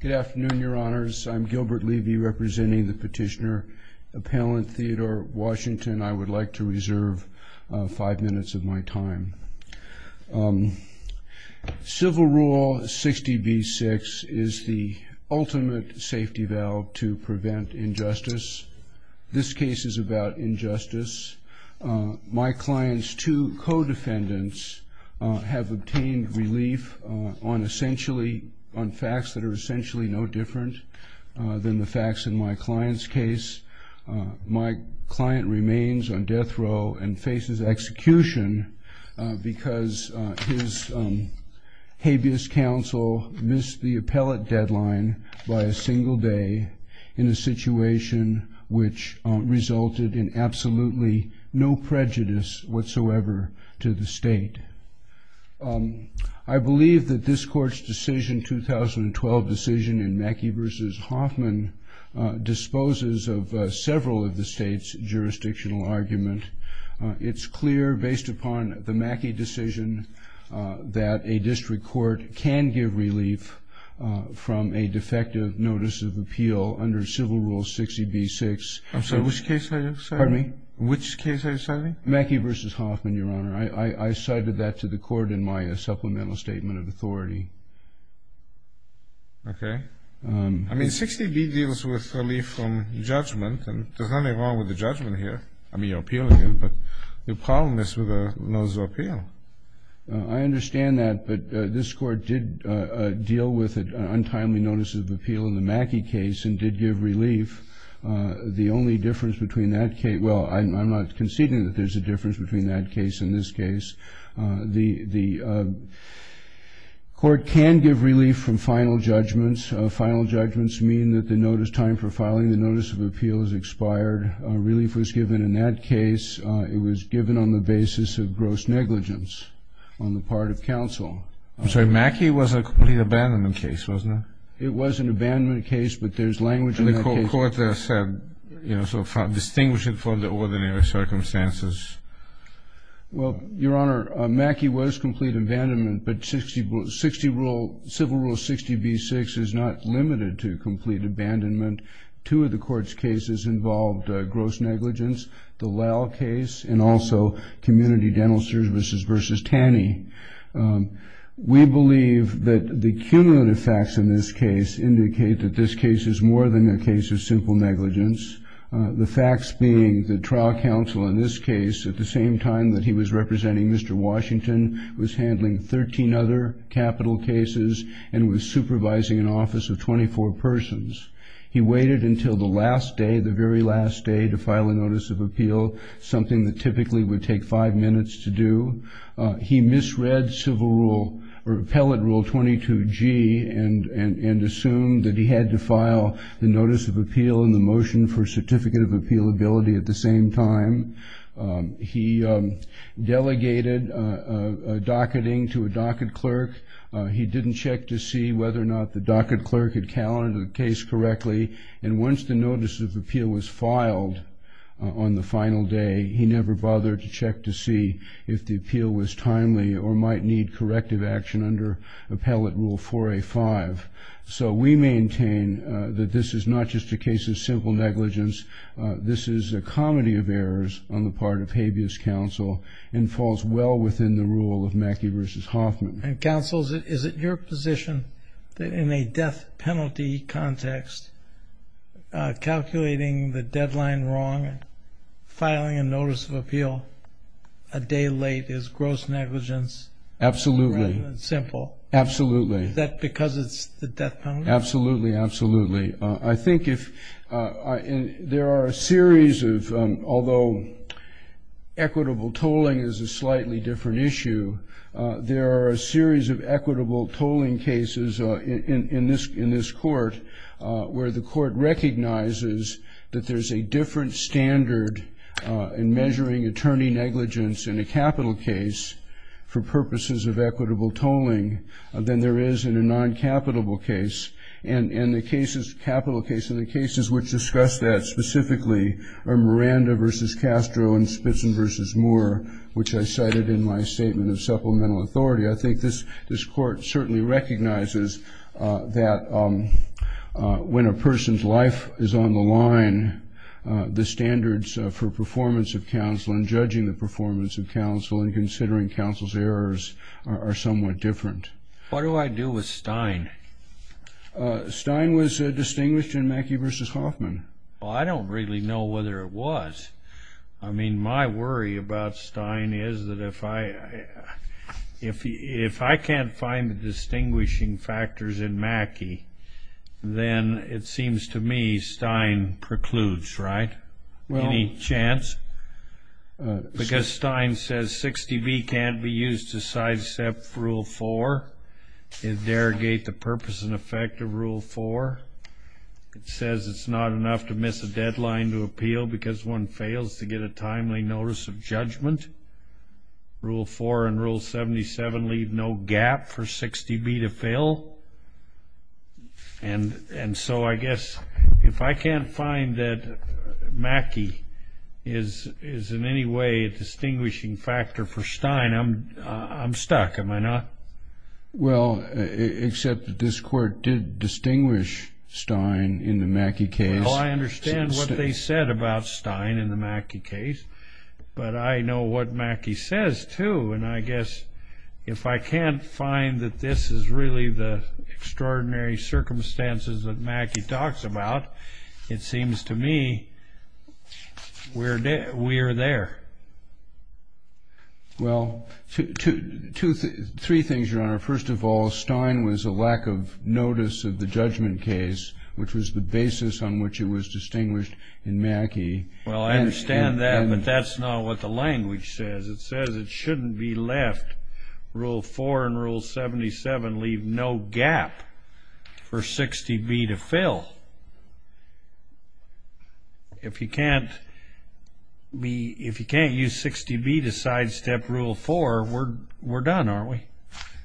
Good afternoon, your honors. I'm Gilbert Levy representing the Petitioner Appellant Theodore Washington. I would like to reserve five minutes of my time. Civil Rule 60b-6 is the ultimate safety valve to prevent injustice. This case is about injustice. My client's two co-defendants have obtained relief on essentially on essentially no different than the facts in my client's case. My client remains on death row and faces execution because his habeas counsel missed the appellate deadline by a single day in a situation which resulted in absolutely no 2012 decision in Mackey v. Hoffman disposes of several of the state's jurisdictional argument. It's clear based upon the Mackey decision that a district court can give relief from a defective notice of appeal under Civil Rule 60b-6 I'm sorry, which case are you citing? Mackey v. Hoffman, your honor. I cited that to the Okay. I mean, 60b deals with relief from judgment, and there's nothing wrong with the judgment here. I mean, your appeal here. But the problem is with a notice of appeal. I understand that, but this Court did deal with an untimely notice of appeal in the Mackey case and did give relief. The only difference between that case well, I'm not conceding that there's a difference between that case and this case The court can give relief from final judgments. Final judgments mean that the notice time for filing the notice of appeal is expired. Relief was given in that case. It was given on the basis of gross negligence on the part of counsel. I'm sorry, Mackey was a complete abandonment case, wasn't it? It was an abandonment case, but there's language in the court that said, you know, so distinguish it from the ordinary circumstances. Well, your honor, Mackey was complete abandonment, but 60, 60 rule, civil rule 60b-6 is not limited to complete abandonment. Two of the court's cases involved gross negligence, the Lowe case, and also community dental services versus Taney. We believe that the cumulative facts in this case indicate that this case is more than a The facts being the trial counsel in this case, at the same time that he was representing Mr. Washington, was handling 13 other capital cases and was supervising an office of 24 persons. He waited until the last day, the very last day, to file a notice of appeal, something that typically would take five minutes to do. He misread civil rule or appellate rule 22g and, and, and assumed that he had to file the notice of appeal and the motion for certificate of appealability at the same time. He delegated a docketing to a docket clerk. He didn't check to see whether or not the docket clerk had counted the case correctly, and once the notice of appeal was filed on the final day, he never bothered to check to see if the appeal was timely or might need corrective action under appellate rule 4a-5. So we maintain that this is not just a case of simple negligence. This is a comedy of errors on the part of habeas counsel and falls well within the rule of Mackey versus Hoffman. And counsel, is it your position that in a death penalty context, calculating the deadline wrong, filing a notice of appeal a day late is gross negligence? Absolutely. Simple. Absolutely. Is that because it's the death penalty? Absolutely. Absolutely. I think if there are a series of, although equitable tolling is a slightly different issue, there are a series of equitable tolling cases in this, in this court where the court recognizes that there's a different standard in measuring attorney negligence in a capital case for purposes of equitable tolling than there is in a non-capitable case. And in the cases, capital case, in the cases which discuss that specifically are Miranda versus Castro and Spitzman versus Moore, which I cited in my statement of supplemental authority. I think this, this court certainly recognizes that when a person's life is on the line, the standards for performance of counsel and considering counsel's errors are somewhat different. What do I do with Stein? Stein was distinguished in Mackey versus Hoffman. Well, I don't really know whether it was. I mean, my worry about Stein is that if I, if, if I can't find the distinguishing factors in Mackey, then it seems to me Stein precludes, right? Any chance? Because Stein says 60B can't be used to sidestep rule four. It derogates the purpose and effect of rule four. It says it's not enough to miss a deadline to appeal because one fails to get a timely notice of judgment. Rule four and rule 77 leave no gap for 60B to fill. And, and so I guess if I can't find that Mackey is, is in any way a distinguishing factor for Stein, I'm, I'm stuck, am I not? Well, except that this court did distinguish Stein in the Mackey case. Well, I understand what they said about Stein in the Mackey case, but I know what Mackey says, too. And I guess if I can't find that this is really the case to me, we're, we are there. Well, two, two, three things, Your Honor. First of all, Stein was a lack of notice of the judgment case, which was the basis on which it was distinguished in Mackey. Well, I understand that, but that's not what the language says. It says it shouldn't be left, rule four and rule 77 leave no gap for 60B to fill. If you can't be, if you can't use 60B to sidestep rule four, we're, we're done, aren't we?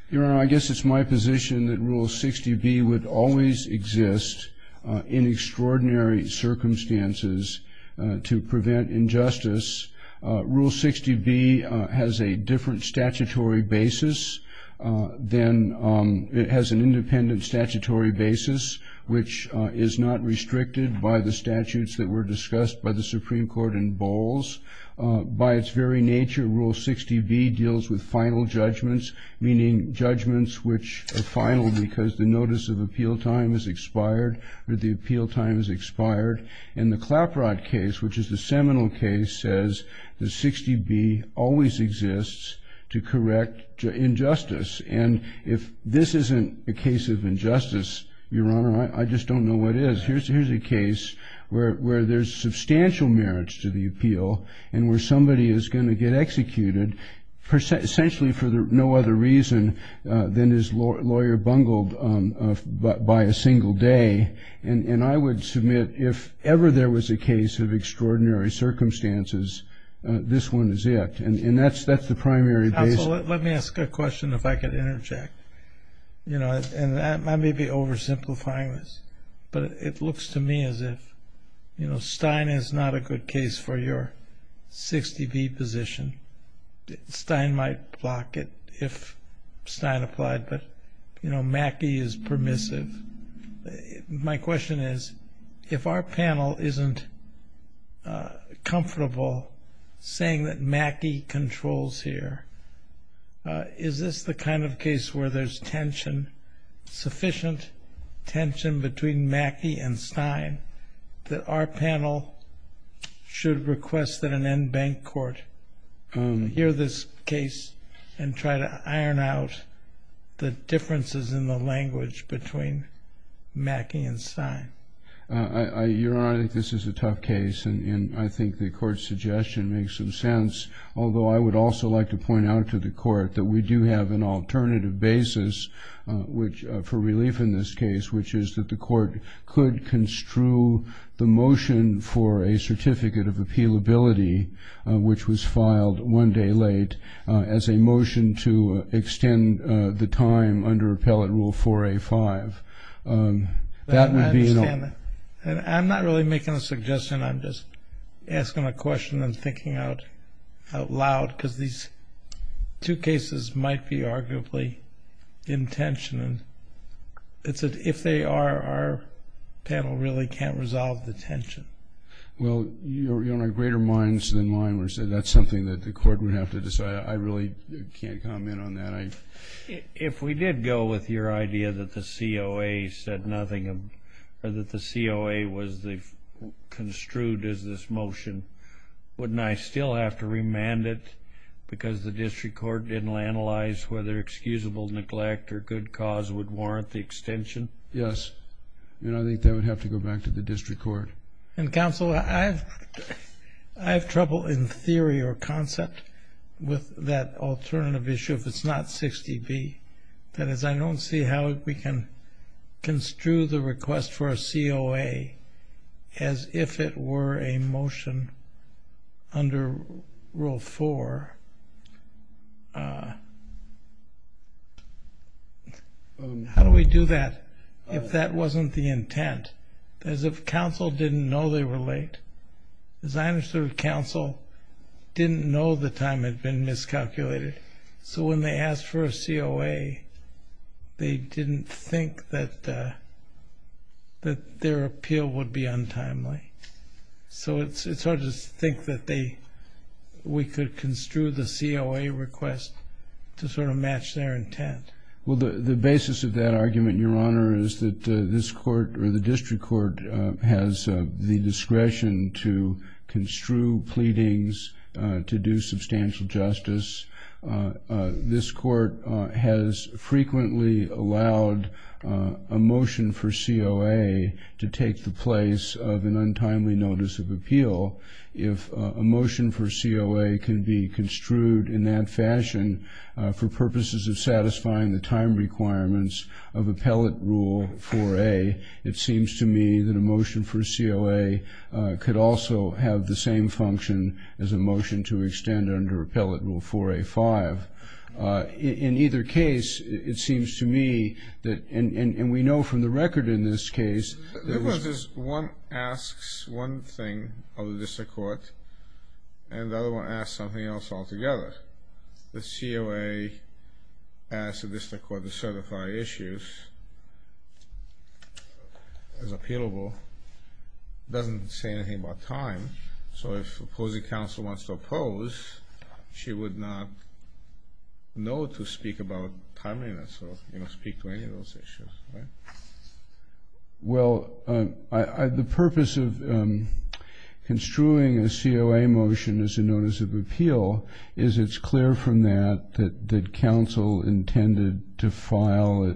Your Honor, I guess it's my position that rule 60B would always exist in extraordinary circumstances to prevent injustice. Rule 60B has a different statutory basis than, it has an independent statutory basis, which is not restricted by the statutes that were discussed by the Supreme Court in Bowles. By its very nature, rule 60B deals with final judgments, meaning judgments which are final because the notice of appeal time has expired, or the appeal time has expired. In the Claprod case, which is the seminal case, says that 60B always exists to correct injustice. And if this isn't a case of injustice, Your Honor, I, I just don't know what is. Here's, here's a case where, where there's substantial merits to the appeal, and where somebody is going to get executed percent, essentially for the, no other reason than his lawyer bungled by a single day. And, and I would submit if ever there was a case of extraordinary circumstances, this one is it. And, and that's, that's the primary basis. Absolutely. Let me ask a question if I could interject. You know, and I may be oversimplifying this, but it looks to me as if, you know, Stein is not a good case for your 60B position. Stein might block it if Stein applied, but, you know, my question is, if our panel isn't comfortable saying that Mackey controls here, is this the kind of case where there's tension, sufficient tension between Mackey and Stein, that our panel should request that an end bank court hear this case and try to iron out the differences in the language between Mackey and Stein? Your Honor, I think this is a tough case, and I think the court's suggestion makes some sense, although I would also like to point out to the court that we do have an alternative basis, which, for relief in this case, which is that the court could construe the motion for a certificate of appealability, which was filed one day late, as a motion to extend the time under appellate rule 4A-5. I'm not really making a suggestion, I'm just asking a question and thinking out loud, because these two cases might be arguably in tension, and if they are, our panel really can't resolve the tension. Well, Your Honor, greater minds than mine were said. That's something that the court would have to decide. I really can't comment on that. If we did go with your idea that the COA said nothing, or that the COA was construed as this motion, wouldn't I still have to remand it, because the district court didn't analyze whether excusable neglect or good cause would warrant the extension? Yes, and I think that would have to go back to the district court. And counsel, I have trouble in theory or concept with that alternative issue, if it's not 60B. That is, I don't see how we can construe the request for a COA as if it were a motion under Rule 4. How do we do that if that wasn't the intent? As if counsel didn't know they were late. As I understood, counsel didn't know the time had been miscalculated. So when they asked for a COA, they didn't think that that their appeal would be untimely. So it's hard to think that they, we could construe the COA request to sort of match their intent. Well, the basis of that argument, Your Honor, is that this court, or the district court, has the discretion to construe pleadings, to do substantial justice. This court has frequently allowed a motion for COA to take the place of an untimely notice of appeal. If a motion for COA can be construed in that fashion for purposes of satisfying the time requirements of Appellate Rule 4A, it seems to me that a motion for COA could also have the same function as a motion to extend under Appellate Rule 4A-5. In either case, it seems to me that, and we know from the record in this case, there's... One asks one thing of the district court, and the COA asks the district court to certify issues as appealable. It doesn't say anything about time, so if opposing counsel wants to oppose, she would not know to speak about timeliness or, you know, speak to any of those issues, right? Well, the purpose of construing a COA motion as a notice of appeal is its clear from that, that counsel intended to file,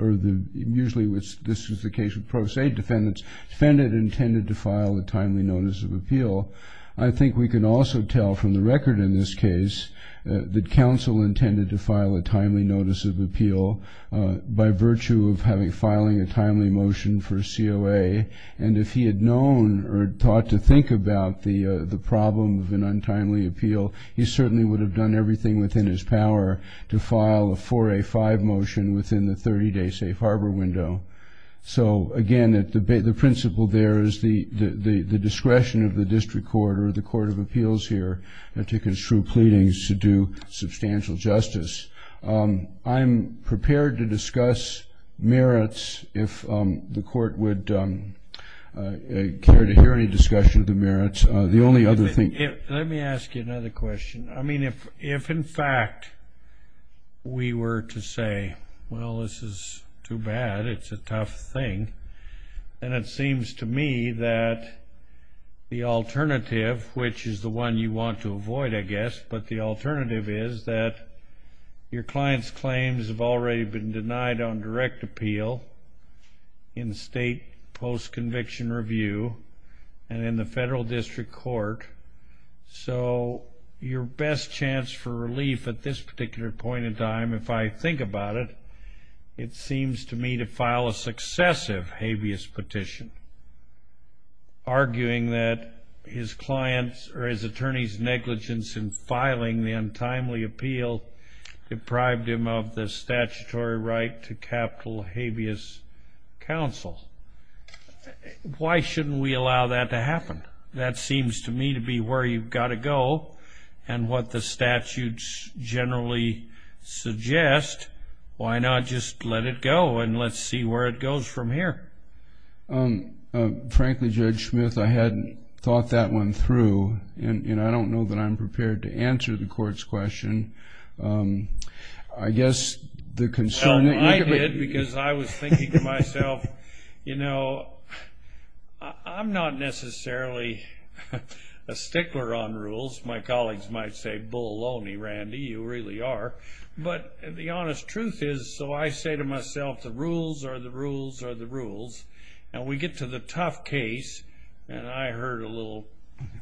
or usually this is the case with pro se defendants, intended to file a timely notice of appeal. I think we can also tell from the record in this case that counsel intended to file a timely notice of appeal by virtue of filing a timely motion for COA, and if he had known or thought to think about the problem of an untimely appeal, he certainly would have done everything within his power to file a 4A-5 motion within the 30-day safe harbor window. So, again, the principle there is the discretion of the district court or the court of appeals here to construe pleadings to do substantial justice. I'm prepared to discuss merits if the court would care to hear any discussion of the merits. The only other thing... Let me ask you another question. I mean, if in fact we were to say, well, this is too bad, it's a tough thing, and it seems to me that the alternative, which is the one you want to avoid, I guess, but the alternative is that your client's claims have already been denied on direct appeal in state post-conviction review and in the federal district court, so your best chance for relief at this particular point in time, if I think about it, it seems to me to file a successive habeas petition, arguing that his client's or his attorney's negligence in filing the untimely appeal deprived him of the statutory right to capital habeas counsel. Why shouldn't we allow that to happen? That seems to me to be where you've got to go, and what the statutes generally suggest, why not just let it go and let's see where it goes from here. Frankly, Judge Smith, I hadn't thought that one through, and I don't know that I'm prepared to answer the question. I was thinking to myself, you know, I'm not necessarily a stickler on rules. My colleagues might say, bull only, Randy, you really are, but the honest truth is, so I say to myself, the rules are the rules are the rules, and we get to the tough case, and I heard a little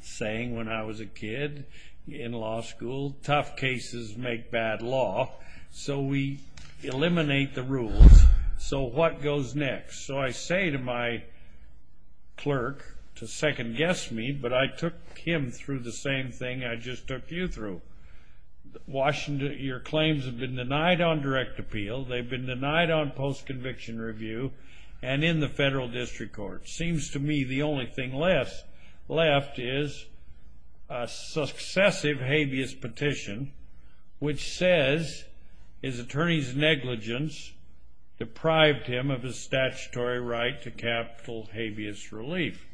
saying when I was a kid in law school, tough cases make bad law, so we eliminate the rules. So what goes next? So I say to my clerk to second-guess me, but I took him through the same thing I just took you through. Washington, your claims have been denied on direct appeal, they've been denied on post-conviction review, and in the federal district court. Seems to me the only thing left is a successive habeas petition, which says his attorney's negligence deprived him of his statutory right to capital habeas relief.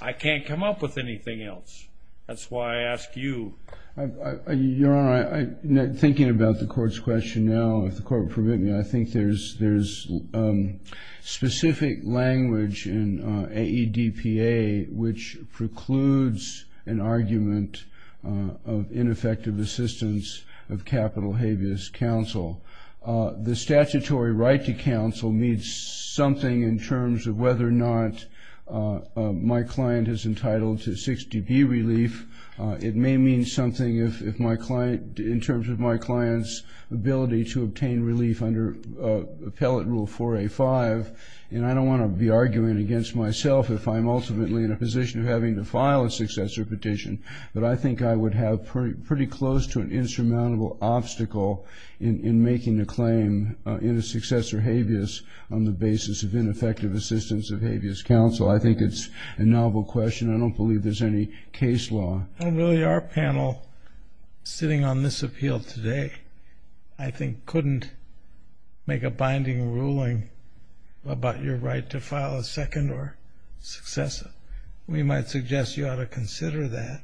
I can't come up with anything else. That's why I ask you. Your Honor, thinking about the court's question now, if the court would permit me, I think there's specific language in AEDPA which precludes an argument of ineffective assistance of capital habeas counsel. The statutory right to counsel means something in terms of whether or not my client is entitled to 60B relief. It may mean something if my client, in terms of my client's ability to obtain relief under Appellate Rule 4A5, and I don't want to be arguing against myself if I'm ultimately in a position of having to file a successor petition, but I think I would have pretty close to an insurmountable obstacle in making a claim in a successor habeas on the basis of ineffective assistance of habeas counsel. I think it's a novel question. I don't believe there's any case law. I don't believe our panel, sitting on this appeal today, I think couldn't make a binding ruling about your right to file a second or successor. We might suggest you ought to consider that.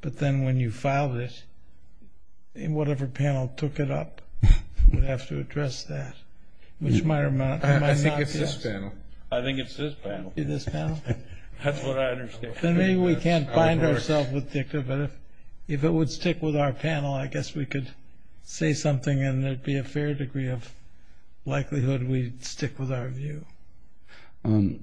But then when you filed it, whatever panel took it up would have to address that. I think it's this panel. I think it's this panel. If it would stick with our panel, I guess we could say something and there'd be a fair degree of likelihood we'd stick with our view. With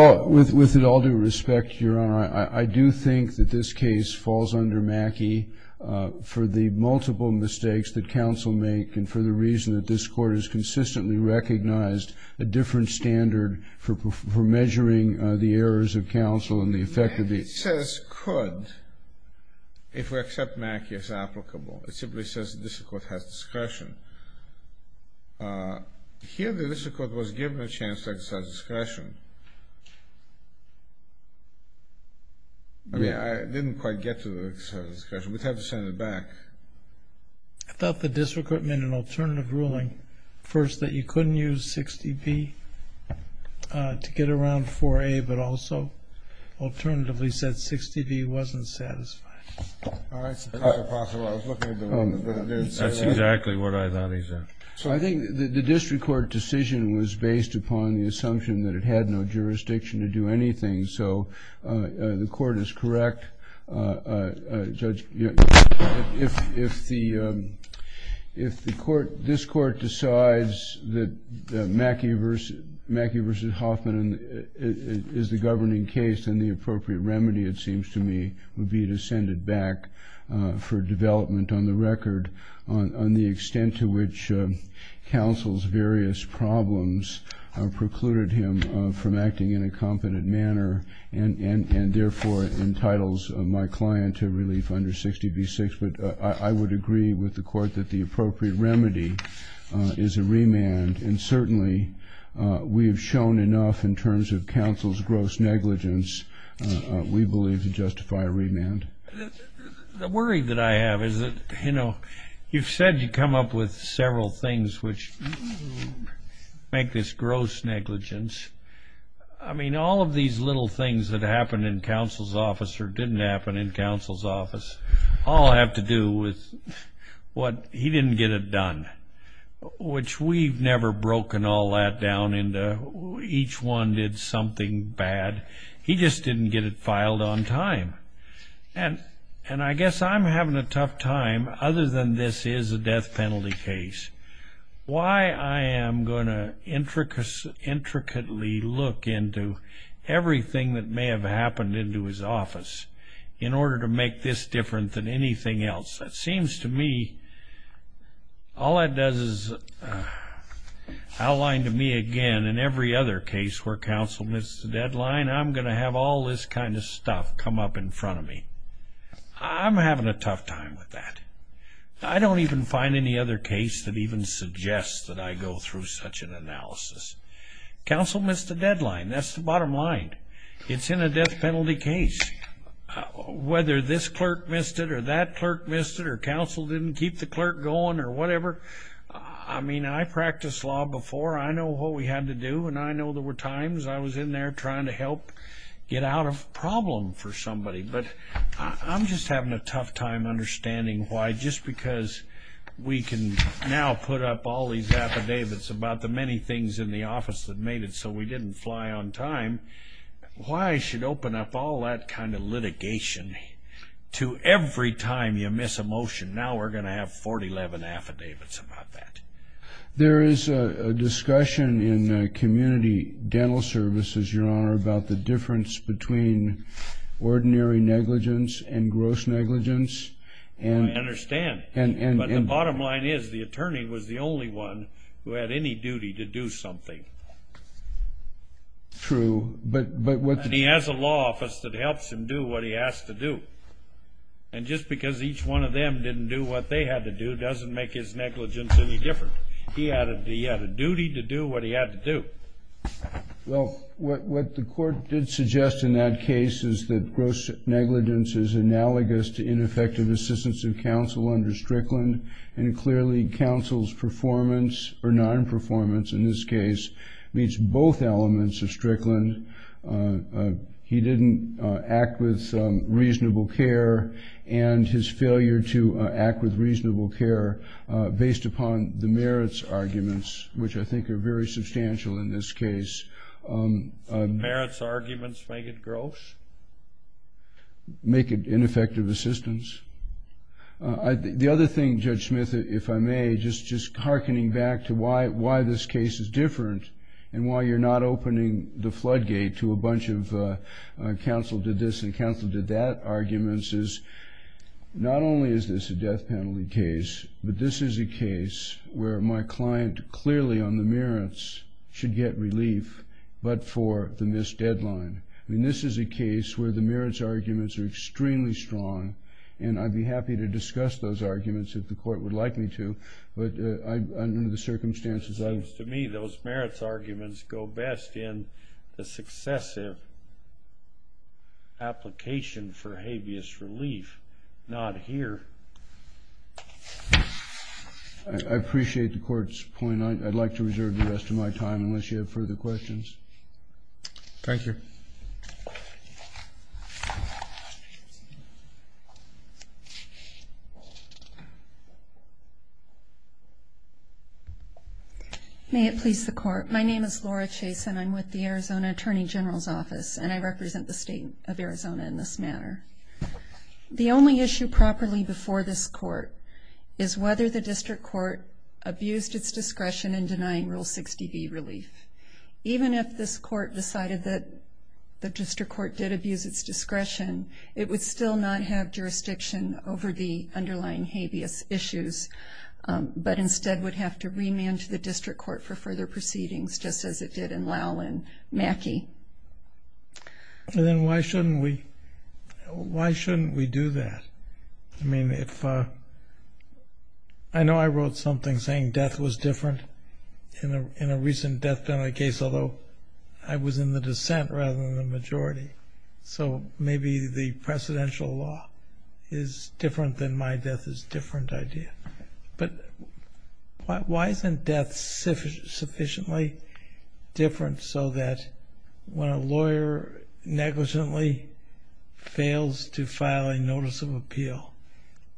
it all due respect, Your Honor, I do think that this case falls under Mackey for the multiple mistakes that counsel make and for the reason that this Court has consistently recognized a different standard for measuring the effect of the... It says could, if we accept Mackey as applicable. It simply says the district court has discretion. Here the district court was given a chance to exercise discretion. I mean, I didn't quite get to the discretion. We'd have to send it back. I thought the district court made an alternative ruling. First, that you couldn't use 60B to get around 4A, but also alternatively said 60B wasn't satisfied. That's exactly what I thought he said. So I think the district court decision was based upon the assumption that it had no jurisdiction to do anything. So the court is correct, Judge. If the court, this court decides that Mackey versus Hoffman is the governing case, then the appropriate remedy, it seems to me, would be to send it back for development on the record on the extent to which counsel's various problems precluded him from acting in a competent manner and therefore entitles my client to relief under 60B-6. But I would agree with the court that the appropriate remedy is a remand. And certainly we have shown enough in terms of counsel's gross negligence, we believe, to justify a remand. The worry that I have is that, you know, you've said you come up with several things which make this gross negligence. I mean, all of these little things that happened in counsel's office or didn't happen in counsel's office all have to do with what he didn't get it done, which we've never broken all that down into. Each one did something bad. He just didn't get it filed on time. And I guess I'm having a tough time, other than this is a death penalty case. Why I am going to have to deal with what happened into his office in order to make this different than anything else. That seems to me, all that does is outline to me again, in every other case where counsel missed the deadline, I'm going to have all this kind of stuff come up in front of me. I'm having a tough time with that. I don't even find any other case that even suggests that I go through such an death penalty case. Whether this clerk missed it, or that clerk missed it, or counsel didn't keep the clerk going, or whatever. I mean, I practiced law before. I know what we had to do, and I know there were times I was in there trying to help get out of problem for somebody. But I'm just having a tough time understanding why, just because we can now put up all these affidavits about the many things in the one time, why I should open up all that kind of litigation to every time you miss a motion. Now we're going to have 411 affidavits about that. There is a discussion in community dental services, your honor, about the difference between ordinary negligence and gross negligence. I understand, but the bottom line is the clerk has a duty to do something. He has a law office that helps him do what he has to do. And just because each one of them didn't do what they had to do doesn't make his negligence any different. He had a duty to do what he had to do. Well, what the court did suggest in that case is that gross negligence is analogous to ineffective assistance of counsel under Strickland, and clearly counsel's performance, or non-performance in this case, means both elements of Strickland. He didn't act with reasonable care, and his failure to act with reasonable care based upon the merits arguments, which I think are very substantial in this case. Merits arguments make it gross? Make it ineffective assistance? The other thing, Judge Smith, if I may, just hearkening back to why this case is different and why you're not opening the floodgate to a bunch of counsel did this and counsel did that arguments is not only is this a death penalty case, but this is a case where my client clearly on the merits should get relief but for the missed deadline. I mean, this is a case where the merits arguments are extremely strong, and I'd be happy to discuss those arguments if the court would like me to, but under the circumstances... It seems to me those merits arguments go best in the successive application for habeas relief, not here. I appreciate the court's point. I'd like to reserve the rest of my time unless you have further questions. Thank you. May it please the court. My name is Laura Chase, and I'm with the Arizona Attorney General's office, and I represent the state of Arizona in this manner. The only issue properly before this court is whether the district court abused its discretion in denying Rule 60B relief. Even if this court decided that the district court did abuse its discretion, it would still not have jurisdiction over the underlying habeas issues, but instead would have to remand to the district court for further proceedings, just as it did in Lowell and Mackey. Then why shouldn't we do that? I mean, I know I wrote something saying death was different in a recent death penalty case, although I was in the dissent rather than the majority. So maybe the precedential law is different than my death is a different idea. But why isn't death sufficiently different so that when a lawyer negligently fails to file a notice of appeal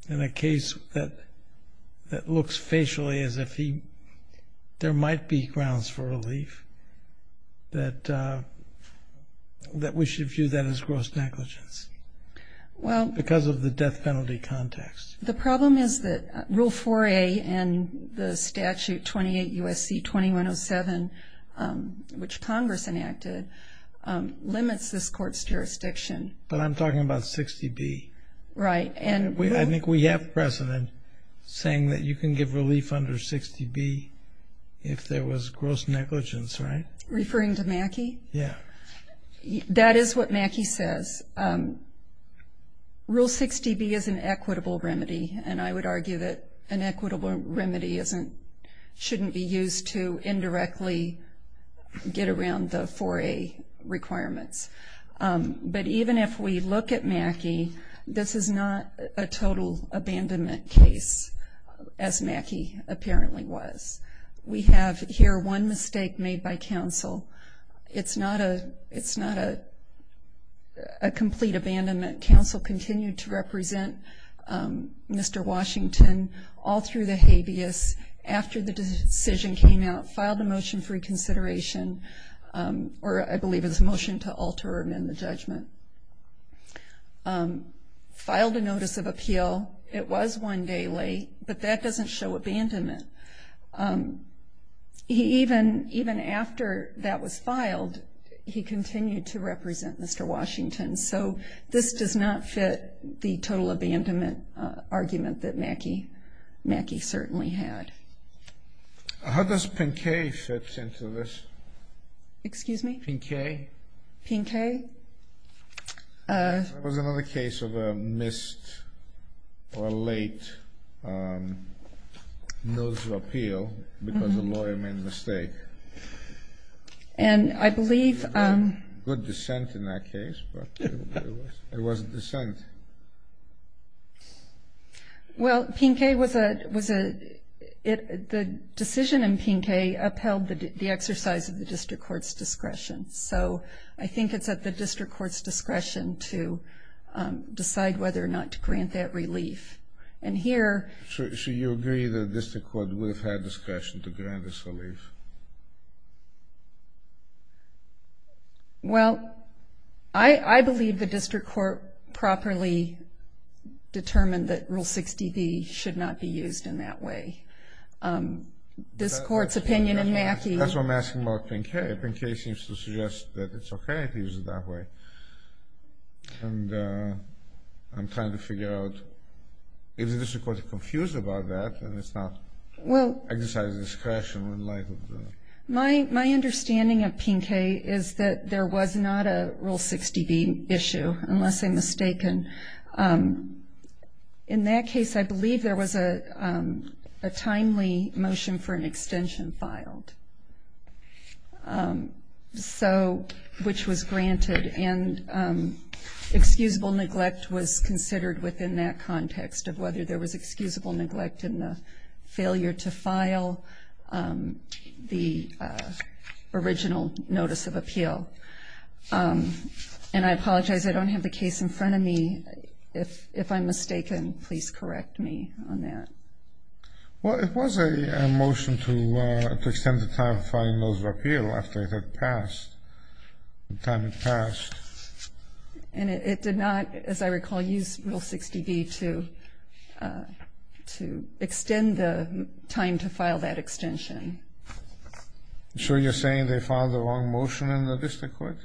in a case that looks facially as if there might be grounds for relief, that we should view that as gross negligence because of the death penalty context? The problem is that Rule 4A and the statute 28 U.S.C. 2107, which Congress enacted, limits this court's jurisdiction. But I'm talking about 60B. Right. I think we have precedent saying that you can give relief under 60B if there was gross negligence, right? Referring to Mackey? Yeah. That is what Mackey says. Rule 60B is an equitable remedy, and I would argue that an equitable remedy shouldn't be used to indirectly get around the 4A requirements. But even if we look at Mackey, this is not a total abandonment case, as Mackey apparently was. We have here one mistake made by counsel. It's not a complete abandonment. Counsel continued to represent Mr. Washington all through the habeas. After the decision came out, filed a motion for reconsideration, or I believe it was a motion to alter or amend the judgment. Filed a notice of appeal. It was one day late, but that doesn't show abandonment. Even after that was filed, he continued to represent Mr. Washington. So this does not fit the total abandonment argument that Mackey certainly had. How does Pinkay fit into this? Excuse me? Pinkay? Pinkay? That was another case of a missed or late notice of appeal because a lawyer made a mistake. And I believe... Good dissent in that case, but it wasn't dissent. Well, Pinkay was a... The decision in Pinkay upheld the exercise of the district court's discretion. So I think it's at the district court's discretion to decide whether or not to grant that relief. And here... So you agree that the district court would have had discretion to grant this relief? Well, I believe the district court properly determined that Rule 60B should not be used in that way. This court's opinion in Mackey... That's what I'm asking about Pinkay. Pinkay seems to suggest that it's okay to use it that way. And I'm trying to figure out if the district court is confused about that, and it's not exercising discretion in light of the... My understanding of Pinkay is that there was not a Rule 60B issue, unless I'm mistaken. In that case, I believe there was a timely motion for an extension filed, which was granted. And excusable neglect was considered within that context, of whether there was excusable neglect in the failure to file the original notice of appeal. And I apologize, I don't have the case in front of me. If I'm mistaken, please correct me on that. Well, it was a motion to extend the time of filing notice of appeal after it had passed. The time had passed. And it did not, as I recall, use Rule 60B to extend the time to file that extension. So you're saying they filed the wrong motion in the district court?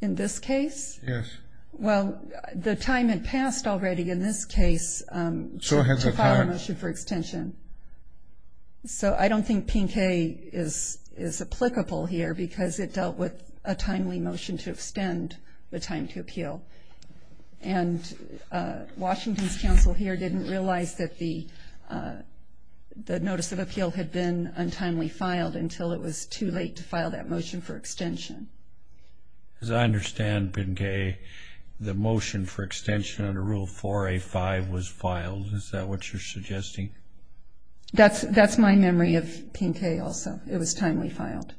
In this case? Yes. Well, the time had passed already in this case to file a motion for extension. So I don't think Pinkay is applicable here, because it dealt with a timely motion to extend the time to appeal. And Washington's counsel here didn't realize that the notice of appeal had been untimely filed until it was too late to file that motion for extension. As I understand, Pinkay, the motion for extension under Rule 4A-5 was filed. Is that what you're suggesting? That's my memory of Pinkay also. It was timely filed.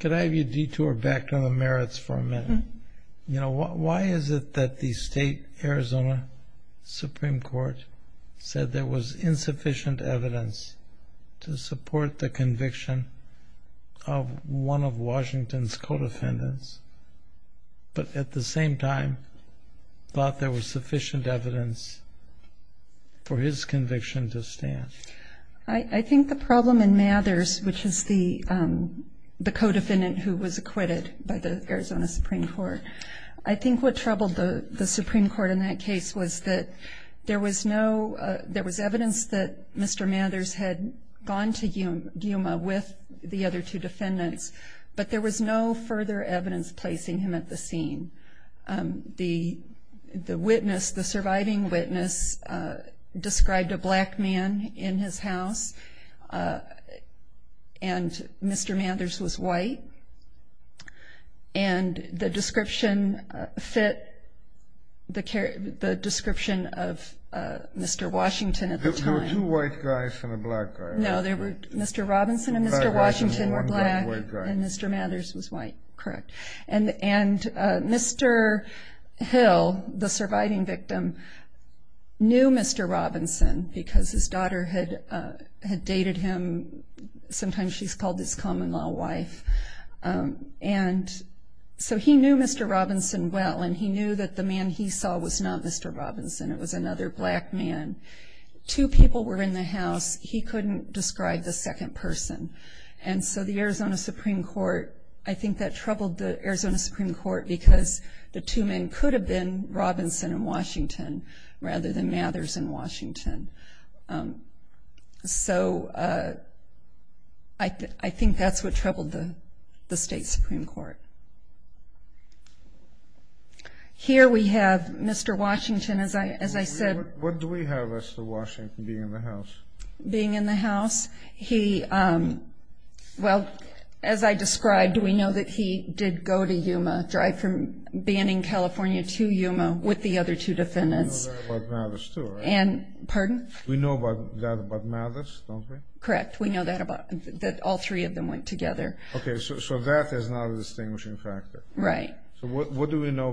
Could I have you detour back to the merits for a minute? Why is it that the state Arizona Supreme Court said there was insufficient evidence to support the conviction of one of Washington's co-defendants, but at the same time thought there was sufficient evidence for his conviction to stand? I think the problem in Mathers, which is the co-defendant who was acquitted by the Arizona Supreme Court, I think what troubled the Supreme Court in that case was that there was evidence that Mr. Mathers had gone to Yuma with the other two defendants, but there was no further evidence placing him at the scene. The surviving witness described a black man in his house, and Mr. Mathers was white. And the description fit the description of Mr. Washington at the time. There were two white guys and a black guy. No, Mr. Robinson and Mr. Washington were black, and Mr. Mathers was white. Correct. And Mr. Hill, the surviving victim, knew Mr. Robinson because his daughter had dated him. Sometimes she's called his common-law wife. And so he knew Mr. Robinson well, and he knew that the man he saw was not Mr. Robinson. It was another black man. Two people were in the house. He couldn't describe the second person. And so the Arizona Supreme Court, I think that troubled the Arizona Supreme Court because the two men could have been Robinson and Washington rather than Mathers and Washington. So I think that's what troubled the state Supreme Court. Here we have Mr. Washington, as I said. What do we have as to Washington being in the house? Being in the house, he, well, as I described, we know that he did go to Yuma, drive from Banning, California, to Yuma with the other two defendants. Pardon? We know that about Mathers, don't we? Correct. We know that all three of them went together. Okay. So that is not a distinguishing factor. Right. So what do we know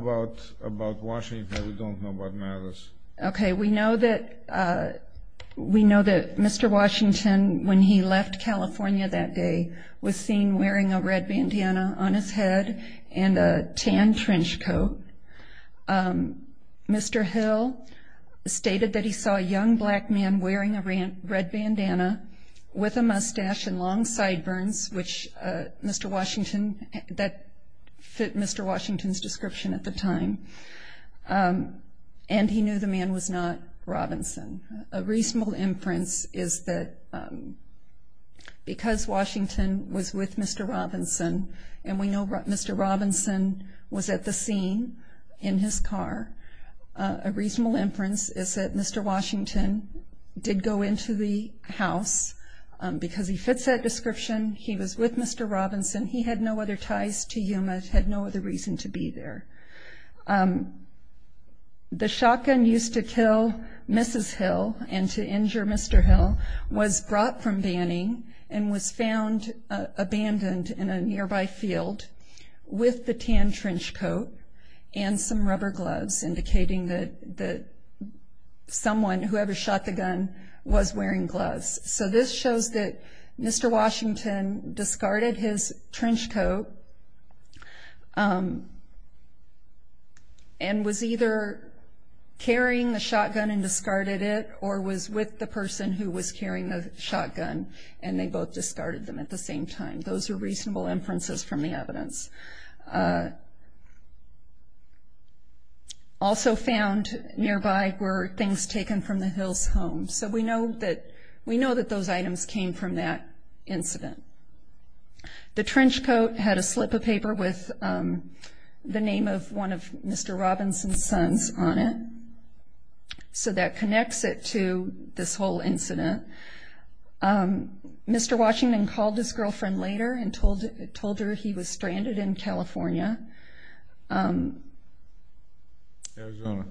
about Washington that we don't know about Mathers? Okay. We know that Mr. Washington, when he left California that day, was seen wearing a red bandana on his head and a tan trench coat. Mr. Hill stated that he saw a young black man wearing a red bandana with a mustache and long sideburns, which Mr. Washington, that fit Mr. Washington's description at the time, and he knew the man was not Robinson. A reasonable inference is that because Washington was with Mr. Robinson and we know Mr. Robinson was at the scene in his car, a reasonable inference is that Mr. Washington did go into the house because he fits that description, he was with Mr. Robinson, he had no other ties to Yuma, had no other reason to be there. The shotgun used to kill Mrs. Hill and to injure Mr. Hill was brought from Banning and was found abandoned in a nearby field with the tan trench coat and some rubber gloves indicating that someone, whoever shot the gun, was wearing gloves. So this shows that Mr. Washington discarded his trench coat and was either carrying the shotgun and discarded it or was with the person who was carrying the shotgun and they both discarded them at the same time. Those are reasonable inferences from the evidence. Also found nearby were things taken from the Hill's home. So we know that those items came from that incident. The trench coat had a slip of paper with the name of one of Mr. Robinson's sons on it. So that connects it to this whole incident. Mr. Washington called his girlfriend later and told her he was stranded in California. Arizona.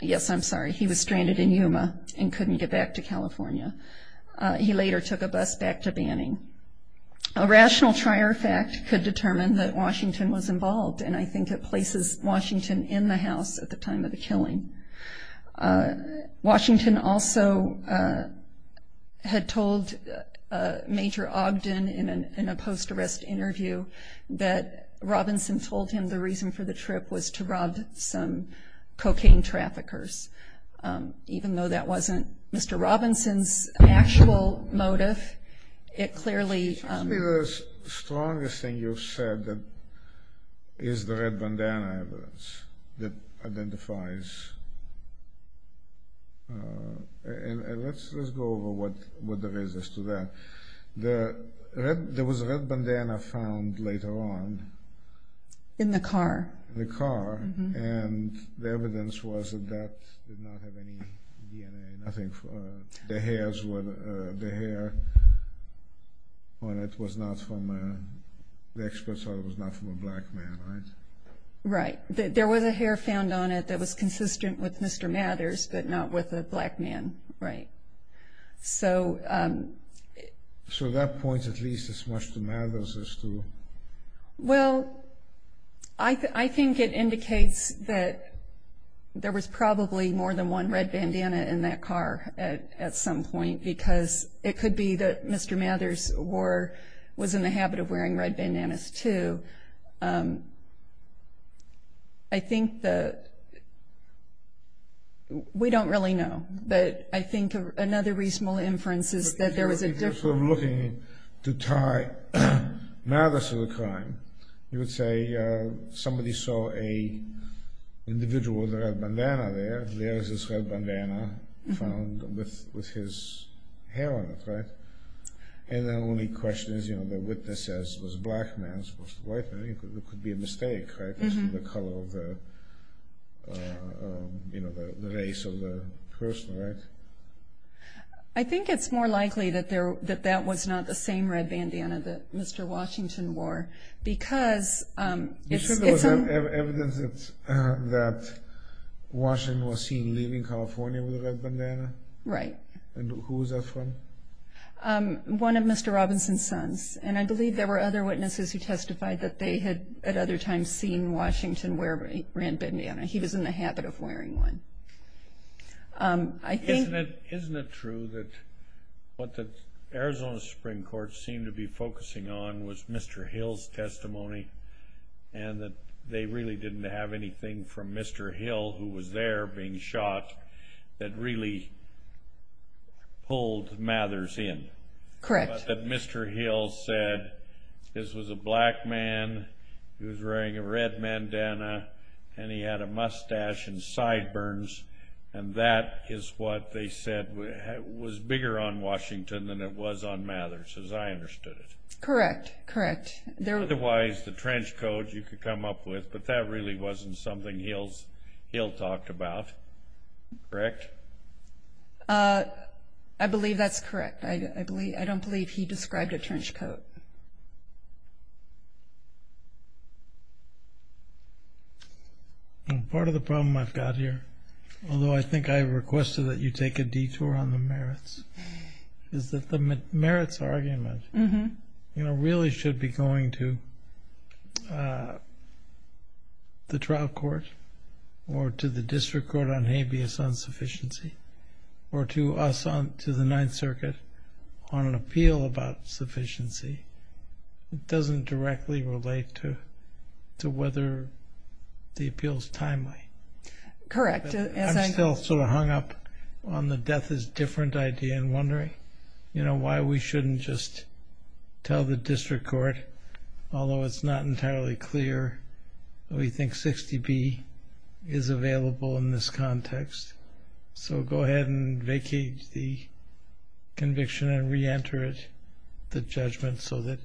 Yes, I'm sorry, he was stranded in Yuma and couldn't get back to California. He later took a bus back to Banning. A rational trier fact could determine that Washington was involved and I think it places Washington in the house at the time of the killing. Washington also had told Major Ogden in a post-arrest interview that Robinson told him the reason for the trip was to rob some cocaine traffickers, even though that wasn't Mr. Robinson's actual motive. The strongest thing you've said is the red bandana evidence that identifies. Let's go over what there is to that. There was a red bandana found later on. In the car. In the car and the evidence was that that did not have any DNA. I think the hair on it was not from a black man, right? Right. There was a hair found on it that was consistent with Mr. Mathers, but not with a black man. So that points at least as much to Mathers as to? Well, I think it indicates that there was probably more than one red bandana in that car at some point because it could be that Mr. Mathers was in the habit of wearing red bandanas too. I think that we don't really know, but I think another reasonable inference is that there was a different. If you're sort of looking to tie Mathers to the crime, you would say somebody saw an individual with a red bandana there. There is this red bandana found with his hair on it, right? And the only question is, you know, the witness says it was a black man, it was supposed to be a white man. It could be a mistake, right, based on the color of the race of the person, right? I think it's more likely that that was not the same red bandana that Mr. Washington wore because it's... You should have evidence that Washington was seen leaving California with a red bandana. Right. And who was that from? One of Mr. Robinson's sons, and I believe there were other witnesses who testified that they had at other times seen Washington wear a red bandana. He was in the habit of wearing one. I think... Isn't it true that what the Arizona Supreme Court seemed to be focusing on was Mr. Hill's testimony and that they really didn't have anything from Mr. Hill, who was there being shot, that really pulled Mathers in? Correct. But that Mr. Hill said this was a black man, he was wearing a red bandana, and he had a mustache and sideburns, and that is what they said was bigger on Washington than it was on Mathers, as I understood it. Correct, correct. Otherwise, the trench coat you could come up with, but that really wasn't something Hill talked about, correct? I believe that's correct. I don't believe he described a trench coat. Part of the problem I've got here, although I think I requested that you take a detour on the merits, is that the merits argument really should be going to the trial court or to the district court on habeas, on sufficiency, or to us to the Ninth Circuit on an appeal about sufficiency. It doesn't directly relate to whether the appeal is timely. Correct. I'm still sort of hung up on the death is different idea and wondering, you know, why we shouldn't just tell the district court, although it's not entirely clear, that we think 60B is available in this context. So go ahead and vacate the conviction and reenter it, the judgment, so that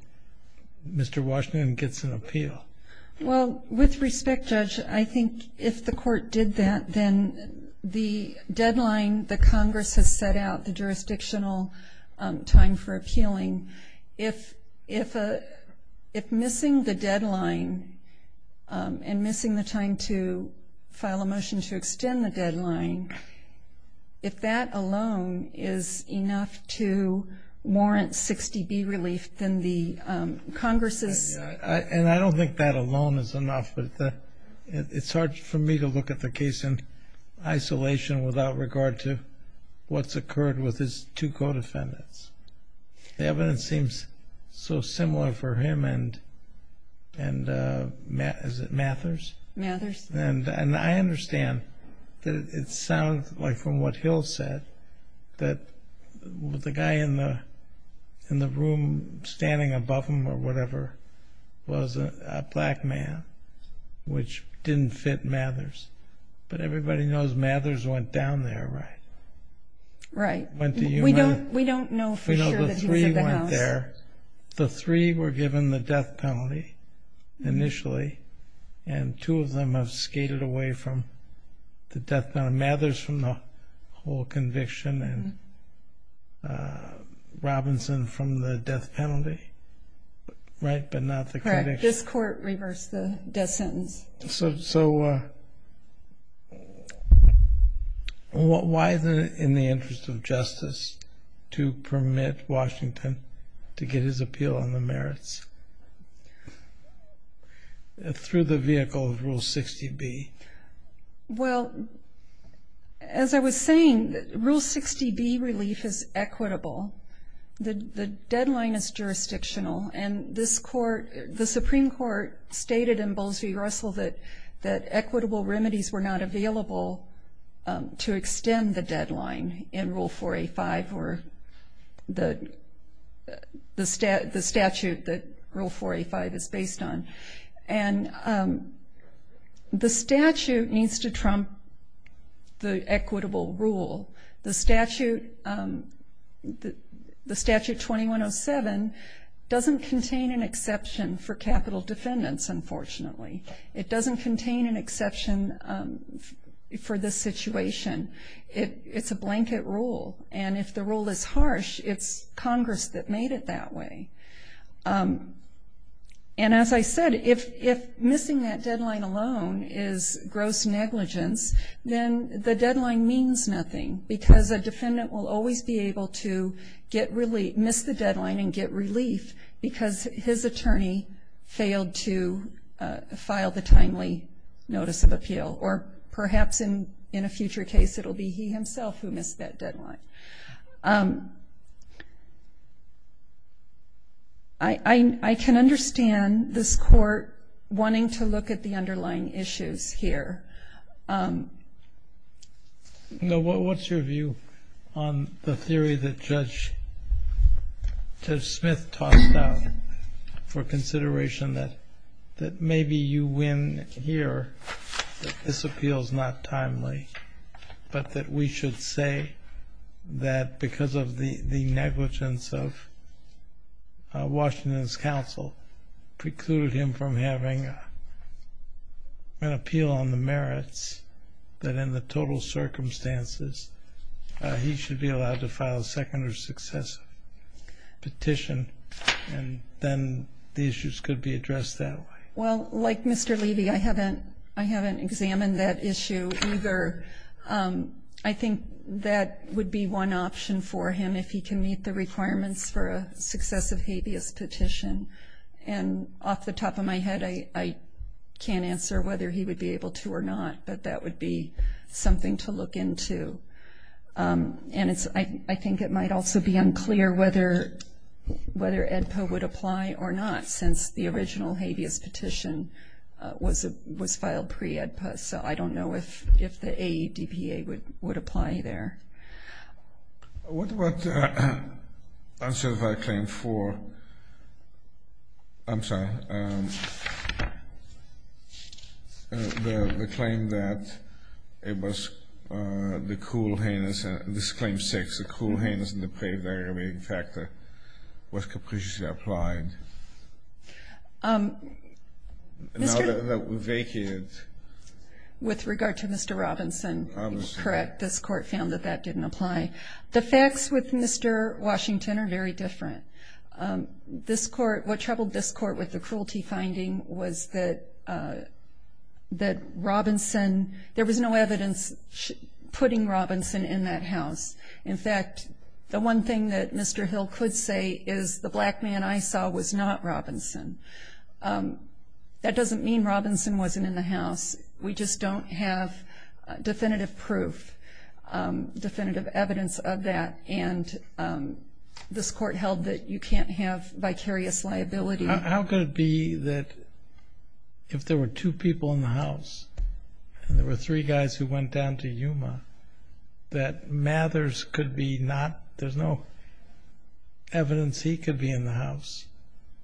Mr. Washington gets an appeal. Well, with respect, Judge, I think if the court did that, then the deadline the Congress has set out, the jurisdictional time for appealing, if missing the deadline and missing the time to file a motion to extend the deadline, if that alone is enough to warrant 60B relief, then the Congress's ---- And I don't think that alone is enough, but it's hard for me to look at the case in isolation without regard to what's occurred with his two co-defendants. The evidence seems so similar for him and, is it Mathers? Mathers. And I understand that it sounds like from what Hill said, that the guy in the room standing above him or whatever was a black man, which didn't fit Mathers. But everybody knows Mathers went down there, right? Right. Went to UMass. We don't know for sure that he was in the house. The three went there. The three were given the death penalty initially, and two of them have skated away from the death penalty. Mathers from the whole conviction and Robinson from the death penalty, right? But not the conviction. Correct. This court reversed the death sentence. So why, in the interest of justice, to permit Washington to get his appeal on the merits through the vehicle of Rule 60B? Well, as I was saying, Rule 60B relief is equitable. The deadline is jurisdictional, and this court, the Supreme Court, stated in Bowles v. Russell that equitable remedies were not available to extend the deadline in Rule 4A-5 or the statute that Rule 4A-5 is based on. And the statute needs to trump the equitable rule. The statute 2107 doesn't contain an exception for capital defendants, unfortunately. It doesn't contain an exception for this situation. It's a blanket rule, and if the rule is harsh, it's Congress that made it that way. And as I said, if missing that deadline alone is gross negligence, then the deadline means nothing because a defendant will always be able to miss the deadline and get relief because his attorney failed to file the timely notice of appeal, or perhaps in a future case it will be he himself who missed that deadline. I can understand this court wanting to look at the underlying issues here. No. What's your view on the theory that Judge Smith tossed down for consideration that maybe you win here, that this appeal is not timely, but that we should say that because of the negligence of Washington's counsel, precluded him from having an appeal on the merits, that in the total circumstances he should be allowed to file a second or successive petition, and then the issues could be addressed that way? Well, like Mr. Levy, I haven't examined that issue either. I think that would be one option for him if he can meet the requirements for a successive habeas petition. And off the top of my head, I can't answer whether he would be able to or not, but that would be something to look into. And I think it might also be unclear whether AEDPA would apply or not, since the original habeas petition was filed pre-AEDPA, so I don't know if the AEDPA would apply there. What about Uncertified Claim 4? I'm sorry. The claim that it was the cruel heinous, this Claim 6, the cruel heinous and the pre-AEDPA, in fact, was capriciously applied. Now that we're vacated. With regard to Mr. Robinson, you're correct. This Court found that that didn't apply. The facts with Mr. Washington are very different. What troubled this Court with the cruelty finding was that Robinson, there was no evidence putting Robinson in that house. In fact, the one thing that Mr. Hill could say is the black man I saw was not Robinson. That doesn't mean Robinson wasn't in the house. We just don't have definitive proof, definitive evidence of that, and this Court held that you can't have vicarious liability. How could it be that if there were two people in the house and there were three guys who went down to Yuma, that Mathers could be not, there's no evidence he could be in the house?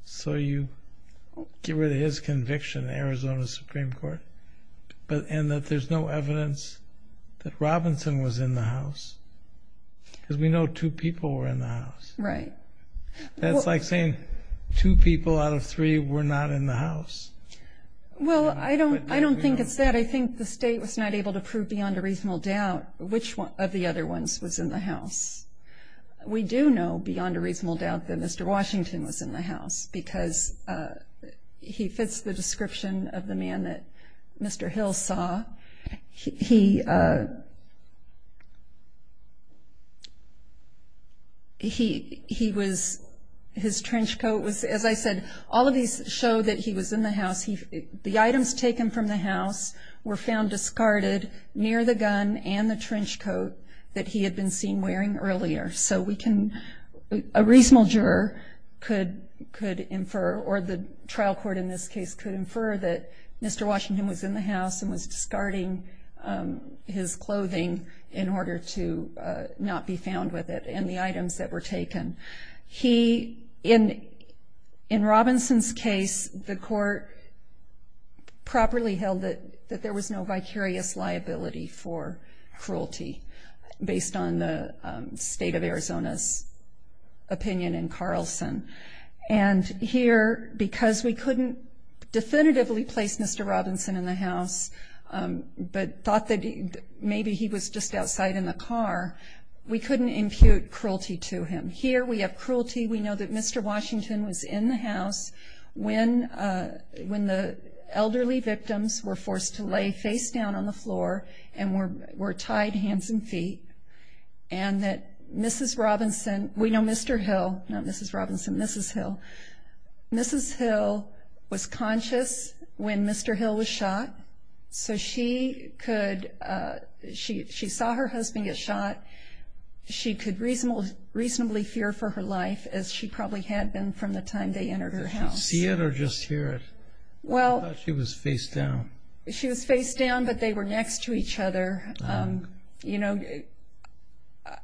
So you get rid of his conviction, Arizona Supreme Court, and that there's no evidence that Robinson was in the house? Because we know two people were in the house. Right. That's like saying two people out of three were not in the house. Well, I don't think it's that. I think the State was not able to prove beyond a reasonable doubt which of the other ones was in the house. We do know beyond a reasonable doubt that Mr. Washington was in the house because he fits the description of the man that Mr. Hill saw. He was, his trench coat was, as I said, all of these show that he was in the house. The items taken from the house were found discarded near the gun and the trench coat that he had been seen wearing earlier. So we can, a reasonable juror could infer, or the trial court in this case could infer, that Mr. Washington was in the house and was discarding his clothing in order to not be found with it and the items that were taken. He, in Robinson's case, the court properly held that there was no vicarious liability for cruelty based on the State of Arizona's opinion in Carlson. And here, because we couldn't definitively place Mr. Robinson in the house, but thought that maybe he was just outside in the car, we couldn't impute cruelty to him. Here we have cruelty. We know that Mr. Washington was in the house when the elderly victims were forced to lay face down on the floor and were tied hands and feet, and that Mrs. Robinson, we know Mr. Hill, not Mrs. Robinson, Mrs. Hill, Mrs. Hill was conscious when Mr. Hill was shot, so she saw her husband get shot. She could reasonably fear for her life, as she probably had been from the time they entered her house. Did she see it or just hear it? I thought she was face down. She was face down, but they were next to each other. You know,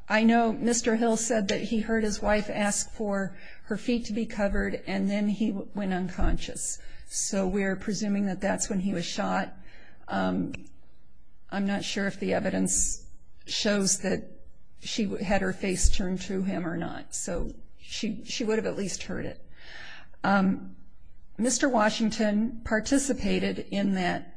I know Mr. Hill said that he heard his wife ask for her feet to be covered, and then he went unconscious, so we're presuming that that's when he was shot. I'm not sure if the evidence shows that she had her face turned to him or not, so she would have at least heard it. Mr. Washington participated in that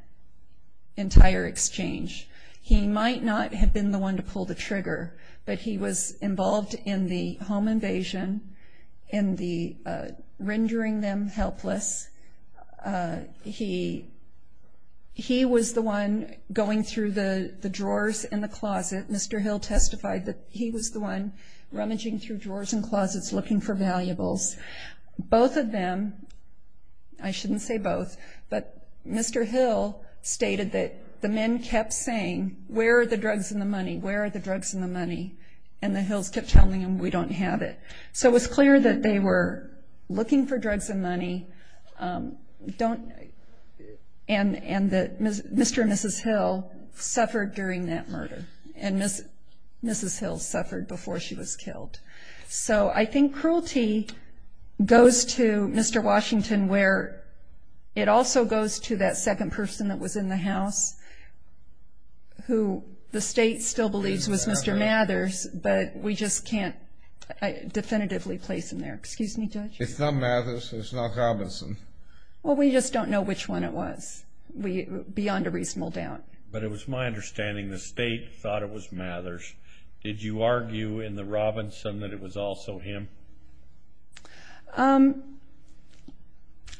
entire exchange. He might not have been the one to pull the trigger, but he was involved in the home invasion and rendering them helpless. He was the one going through the drawers in the closet. Mr. Hill testified that he was the one rummaging through drawers and closets looking for valuables. Both of them, I shouldn't say both, but Mr. Hill stated that the men kept saying, where are the drugs and the money, where are the drugs and the money, and the Hills kept telling him, we don't have it. So it was clear that they were looking for drugs and money, and that Mr. and Mrs. Hill suffered during that murder, and Mrs. Hill suffered before she was killed. So I think cruelty goes to Mr. Washington, where it also goes to that second person that was in the house, who the state still believes was Mr. Mathers, but we just can't definitively place him there. Excuse me, Judge? It's not Mathers. It's not Robinson. Well, we just don't know which one it was beyond a reasonable doubt. But it was my understanding the state thought it was Mathers. Did you argue in the Robinson that it was also him?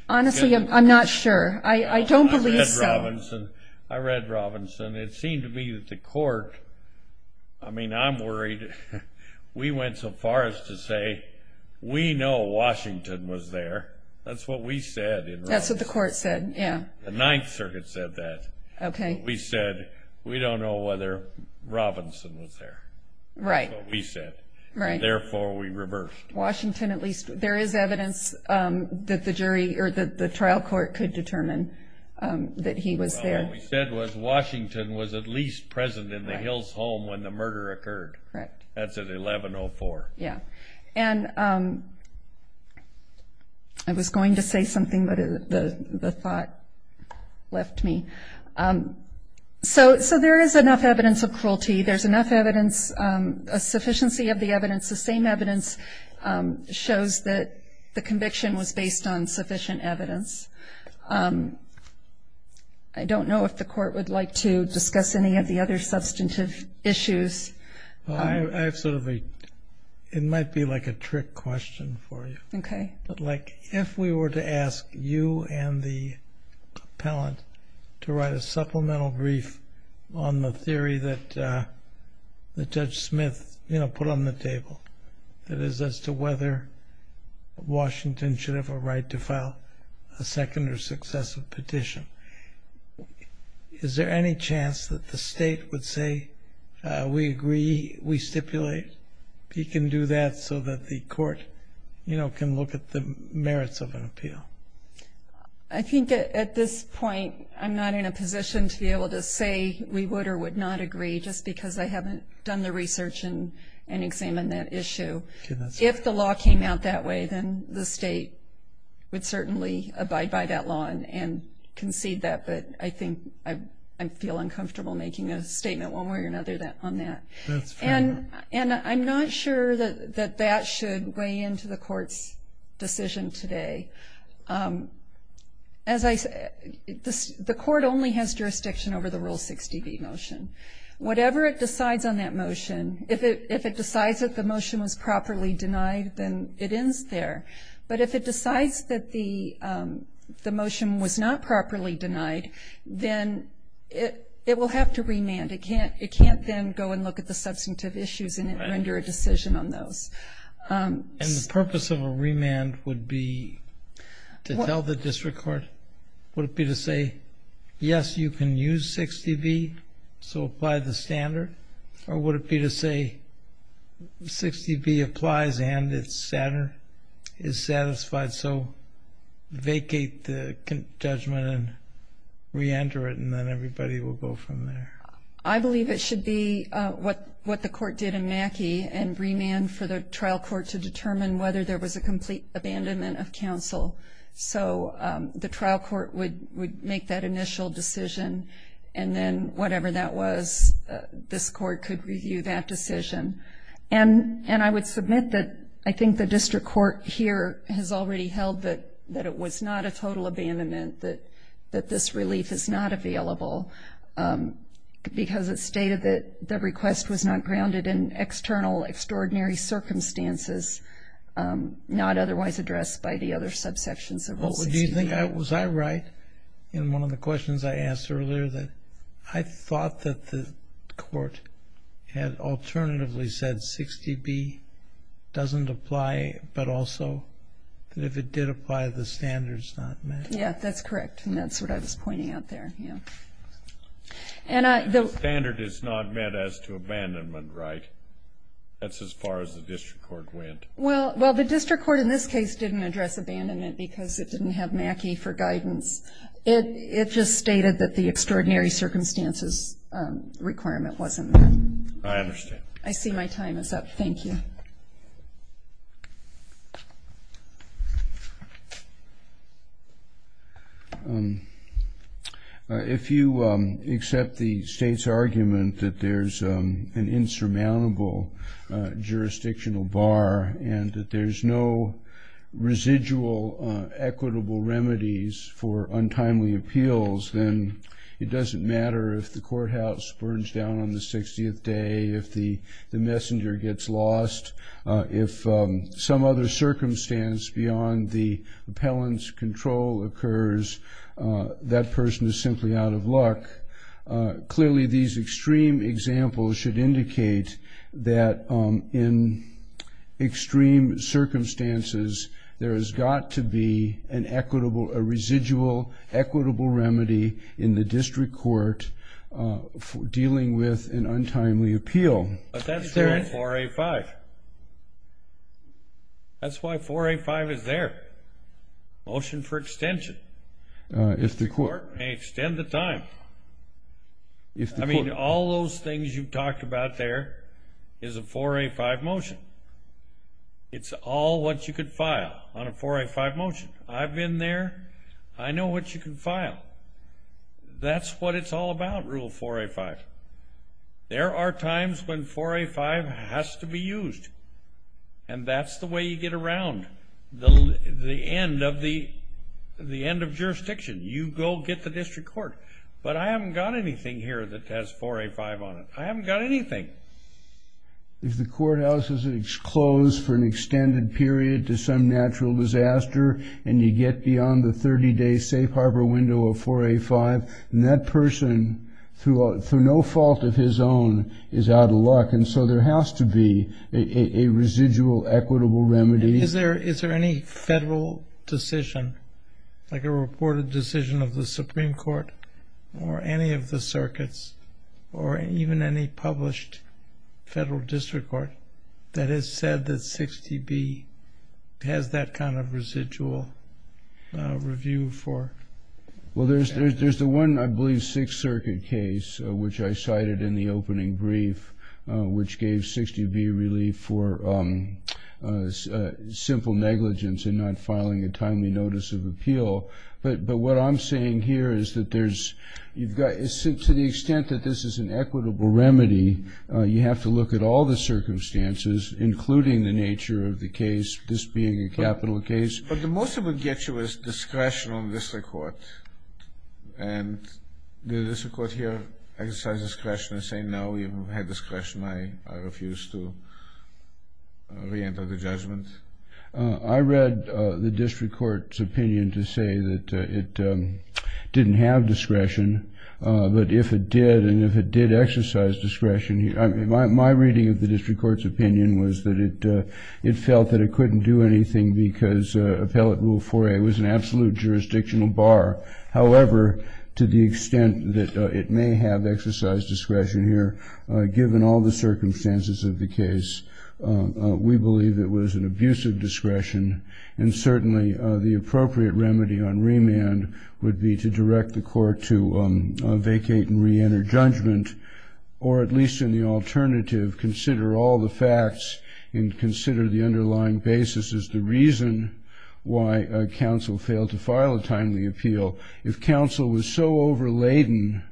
Honestly, I'm not sure. I don't believe so. I read Robinson. I read Robinson. It seemed to me that the court, I mean, I'm worried. We went so far as to say we know Washington was there. That's what we said in Robinson. That's what the court said, yeah. The Ninth Circuit said that. Okay. That's what we said. We don't know whether Robinson was there. Right. That's what we said. Right. Therefore, we reversed. Washington at least. There is evidence that the trial court could determine that he was there. Well, what we said was Washington was at least present in the Hills home when the murder occurred. Correct. That's at 1104. Yeah. And I was going to say something, but the thought left me. So there is enough evidence of cruelty. There's enough evidence, a sufficiency of the evidence. The same evidence shows that the conviction was based on sufficient evidence. I don't know if the court would like to discuss any of the other substantive issues. I have sort of a – it might be like a trick question for you. Okay. But, like, if we were to ask you and the appellant to write a supplemental brief on the theory that Judge Smith, you know, put on the table, that is as to whether Washington should have a right to file a second or successive petition, is there any chance that the state would say, we agree, we stipulate, he can do that so that the court, you know, can look at the merits of an appeal? I think at this point I'm not in a position to be able to say we would or would not agree just because I haven't done the research and examined that issue. If the law came out that way, then the state would certainly abide by that law and concede that. But I think I feel uncomfortable making a statement one way or another on that. That's fair enough. And I'm not sure that that should weigh into the court's decision today. As I said, the court only has jurisdiction over the Rule 60b motion. Whatever it decides on that motion, if it decides that the motion was properly denied, then it ends there. But if it decides that the motion was not properly denied, then it will have to remand. It can't then go and look at the substantive issues and render a decision on those. And the purpose of a remand would be to tell the district court, would it be to say, yes, you can use 60b, so apply the standard, or would it be to say 60b applies and is satisfied, so vacate the judgment and reenter it, and then everybody will go from there? I believe it should be what the court did in Mackey and remand for the trial court to determine whether there was a complete abandonment of counsel. So the trial court would make that initial decision, and then whatever that was, this court could review that decision. And I would submit that I think the district court here has already held that it was not a total abandonment, that this relief is not available because it stated that the request was not grounded in external, extraordinary circumstances, not otherwise addressed by the other subsections of Rule 60b. Was I right in one of the questions I asked earlier, that I thought that the court had alternatively said 60b doesn't apply, but also that if it did apply, the standard is not met? Yes, that's correct, and that's what I was pointing out there. The standard is not met as to abandonment, right? That's as far as the district court went. Well, the district court in this case didn't address abandonment because it didn't have Mackey for guidance. It just stated that the extraordinary circumstances requirement wasn't met. I understand. I see my time is up. Thank you. If you accept the state's argument that there's an insurmountable jurisdictional bar and that there's no residual equitable remedies for untimely appeals, then it doesn't matter if the courthouse burns down on the 60th day, if the messenger gets lost, if some other circumstance beyond the appellant's control occurs, that person is simply out of luck. Clearly, these extreme examples should indicate that in extreme circumstances, there has got to be a residual equitable remedy in the district court dealing with an untimely appeal. But that's not 4A5. That's why 4A5 is there. Motion for extension. The court may extend the time. I mean, all those things you've talked about there is a 4A5 motion. It's all what you could file on a 4A5 motion. I've been there. I know what you can file. That's what it's all about, Rule 4A5. There are times when 4A5 has to be used, and that's the way you get around the end of jurisdiction. You go get the district court. But I haven't got anything here that has 4A5 on it. I haven't got anything. If the courthouse is closed for an extended period to some natural disaster and you get beyond the 30-day safe harbor window of 4A5, that person, through no fault of his own, is out of luck. And so there has to be a residual equitable remedy. Is there any federal decision, like a reported decision of the Supreme Court or any of the circuits or even any published federal district court that has said that 6TB has that kind of residual review for? Well, there's the one, I believe, Sixth Circuit case, which I cited in the opening brief, which gave 6TB relief for simple negligence in not filing a timely notice of appeal. But what I'm saying here is that there's you've got to the extent that this is an equitable remedy, you have to look at all the circumstances, including the nature of the case, this being a capital case. But the most it would get you is discretion on district court. And did the district court here exercise discretion in saying, no, you've had discretion, I refuse to reenter the judgment? I read the district court's opinion to say that it didn't have discretion. But if it did and if it did exercise discretion, my reading of the district court's opinion was that it felt that it couldn't do anything because Appellate Rule 4A was an absolute jurisdictional bar. However, to the extent that it may have exercised discretion here, given all the circumstances of the case, we believe it was an abusive discretion. And certainly the appropriate remedy on remand would be to direct the court to vacate and reenter judgment, or at least in the alternative, consider all the facts and consider the underlying basis as the reason why counsel failed to file a timely appeal. If counsel was so overladen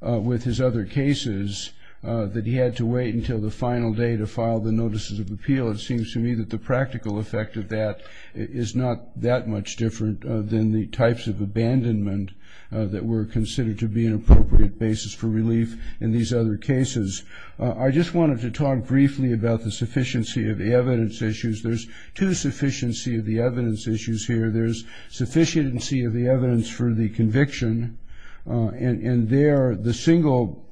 with his other cases that he had to wait until the final day to file the notices of appeal, it seems to me that the practical effect of that is not that much different than the types of abandonment that were considered to be an appropriate basis for relief in these other cases. I just wanted to talk briefly about the sufficiency of the evidence issues. There's two sufficiency of the evidence issues here. There's sufficiency of the evidence for the conviction, and there the single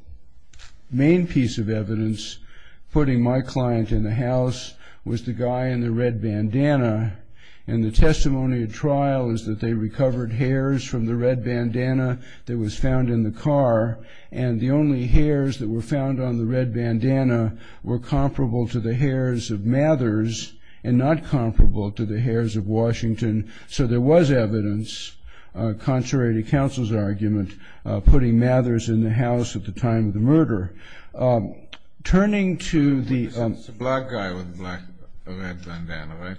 main piece of evidence putting my client in the house was the guy in the red bandana. And the testimony at trial is that they recovered hairs from the red bandana that was found in the car, and the only hairs that were found on the red bandana were comparable to the hairs of Mathers and not comparable to the hairs of Washington. So there was evidence, contrary to counsel's argument, putting Mathers in the house at the time of the murder. It's a black guy with a red bandana, right?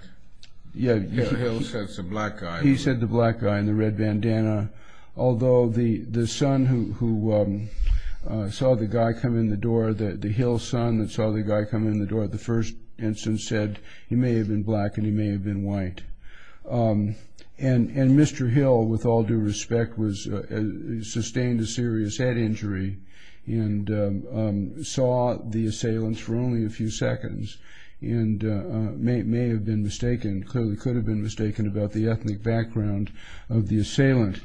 Yeah. Mr. Hill said it's a black guy. He said the black guy in the red bandana, although the son who saw the guy come in the door, the Hill son that saw the guy come in the door, the first instance said he may have been black and he may have been white. And Mr. Hill, with all due respect, sustained a serious head injury and saw the assailant for only a few seconds and may have been mistaken, clearly could have been mistaken about the ethnic background of the assailant.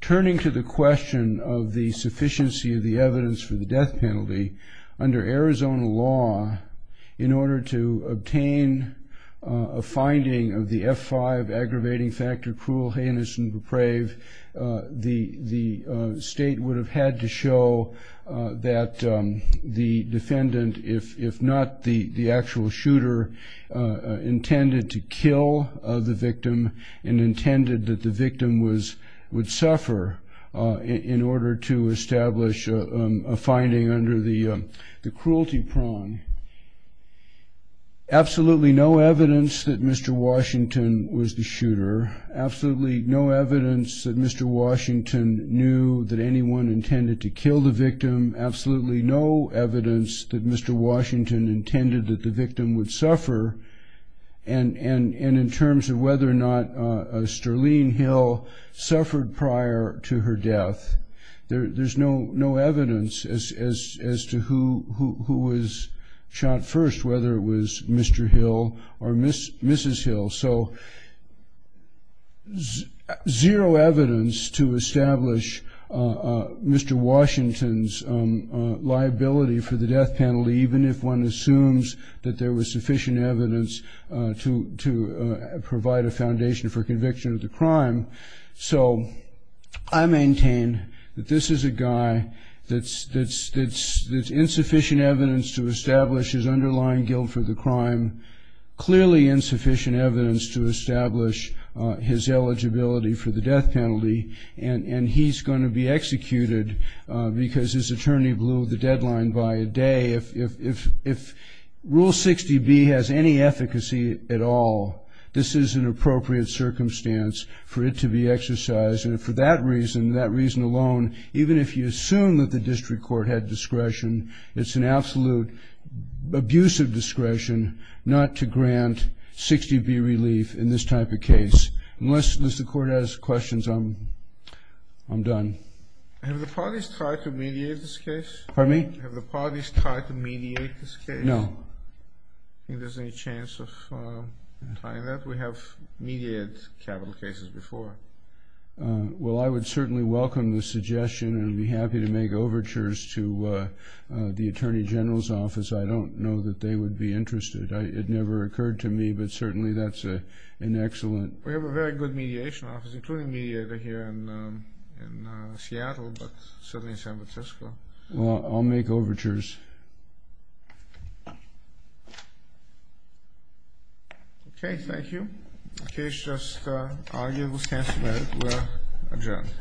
Turning to the question of the sufficiency of the evidence for the death penalty, under Arizona law, in order to obtain a finding of the F5 aggravating factor, cruel, heinous, and depraved, the state would have had to show that the defendant, if not the actual shooter, intended to kill the victim and intended that the victim would suffer in order to establish a finding under the cruelty prong. Absolutely no evidence that Mr. Washington was the shooter. Absolutely no evidence that Mr. Washington knew that anyone intended to kill the victim. Absolutely no evidence that Mr. Washington intended that the victim would suffer. And in terms of whether or not Sterling Hill suffered prior to her death, there's no evidence as to who was shot first, whether it was Mr. Hill or Mrs. Hill. So zero evidence to establish Mr. Washington's liability for the death penalty, even if one assumes that there was sufficient evidence to provide a foundation for conviction of the crime. So I maintain that this is a guy that's insufficient evidence to establish his underlying guilt for the crime, clearly insufficient evidence to establish his eligibility for the death penalty, and he's going to be executed because his attorney blew the deadline by a day. If Rule 60B has any efficacy at all, this is an appropriate circumstance for it to be exercised. And for that reason, that reason alone, even if you assume that the district court had discretion, it's an absolute abuse of discretion not to grant 60B relief in this type of case. Unless the court has questions, I'm done. Have the parties tried to mediate this case? Pardon me? Have the parties tried to mediate this case? No. Do you think there's any chance of trying that? We have mediated capital cases before. Well, I would certainly welcome the suggestion and would be happy to make overtures to the Attorney General's office. I don't know that they would be interested. It never occurred to me, but certainly that's an excellent. We have a very good mediation office, including mediator here in Seattle, but certainly in San Francisco. Well, I'll make overtures. Okay, thank you. The case just argued. We'll adjourn.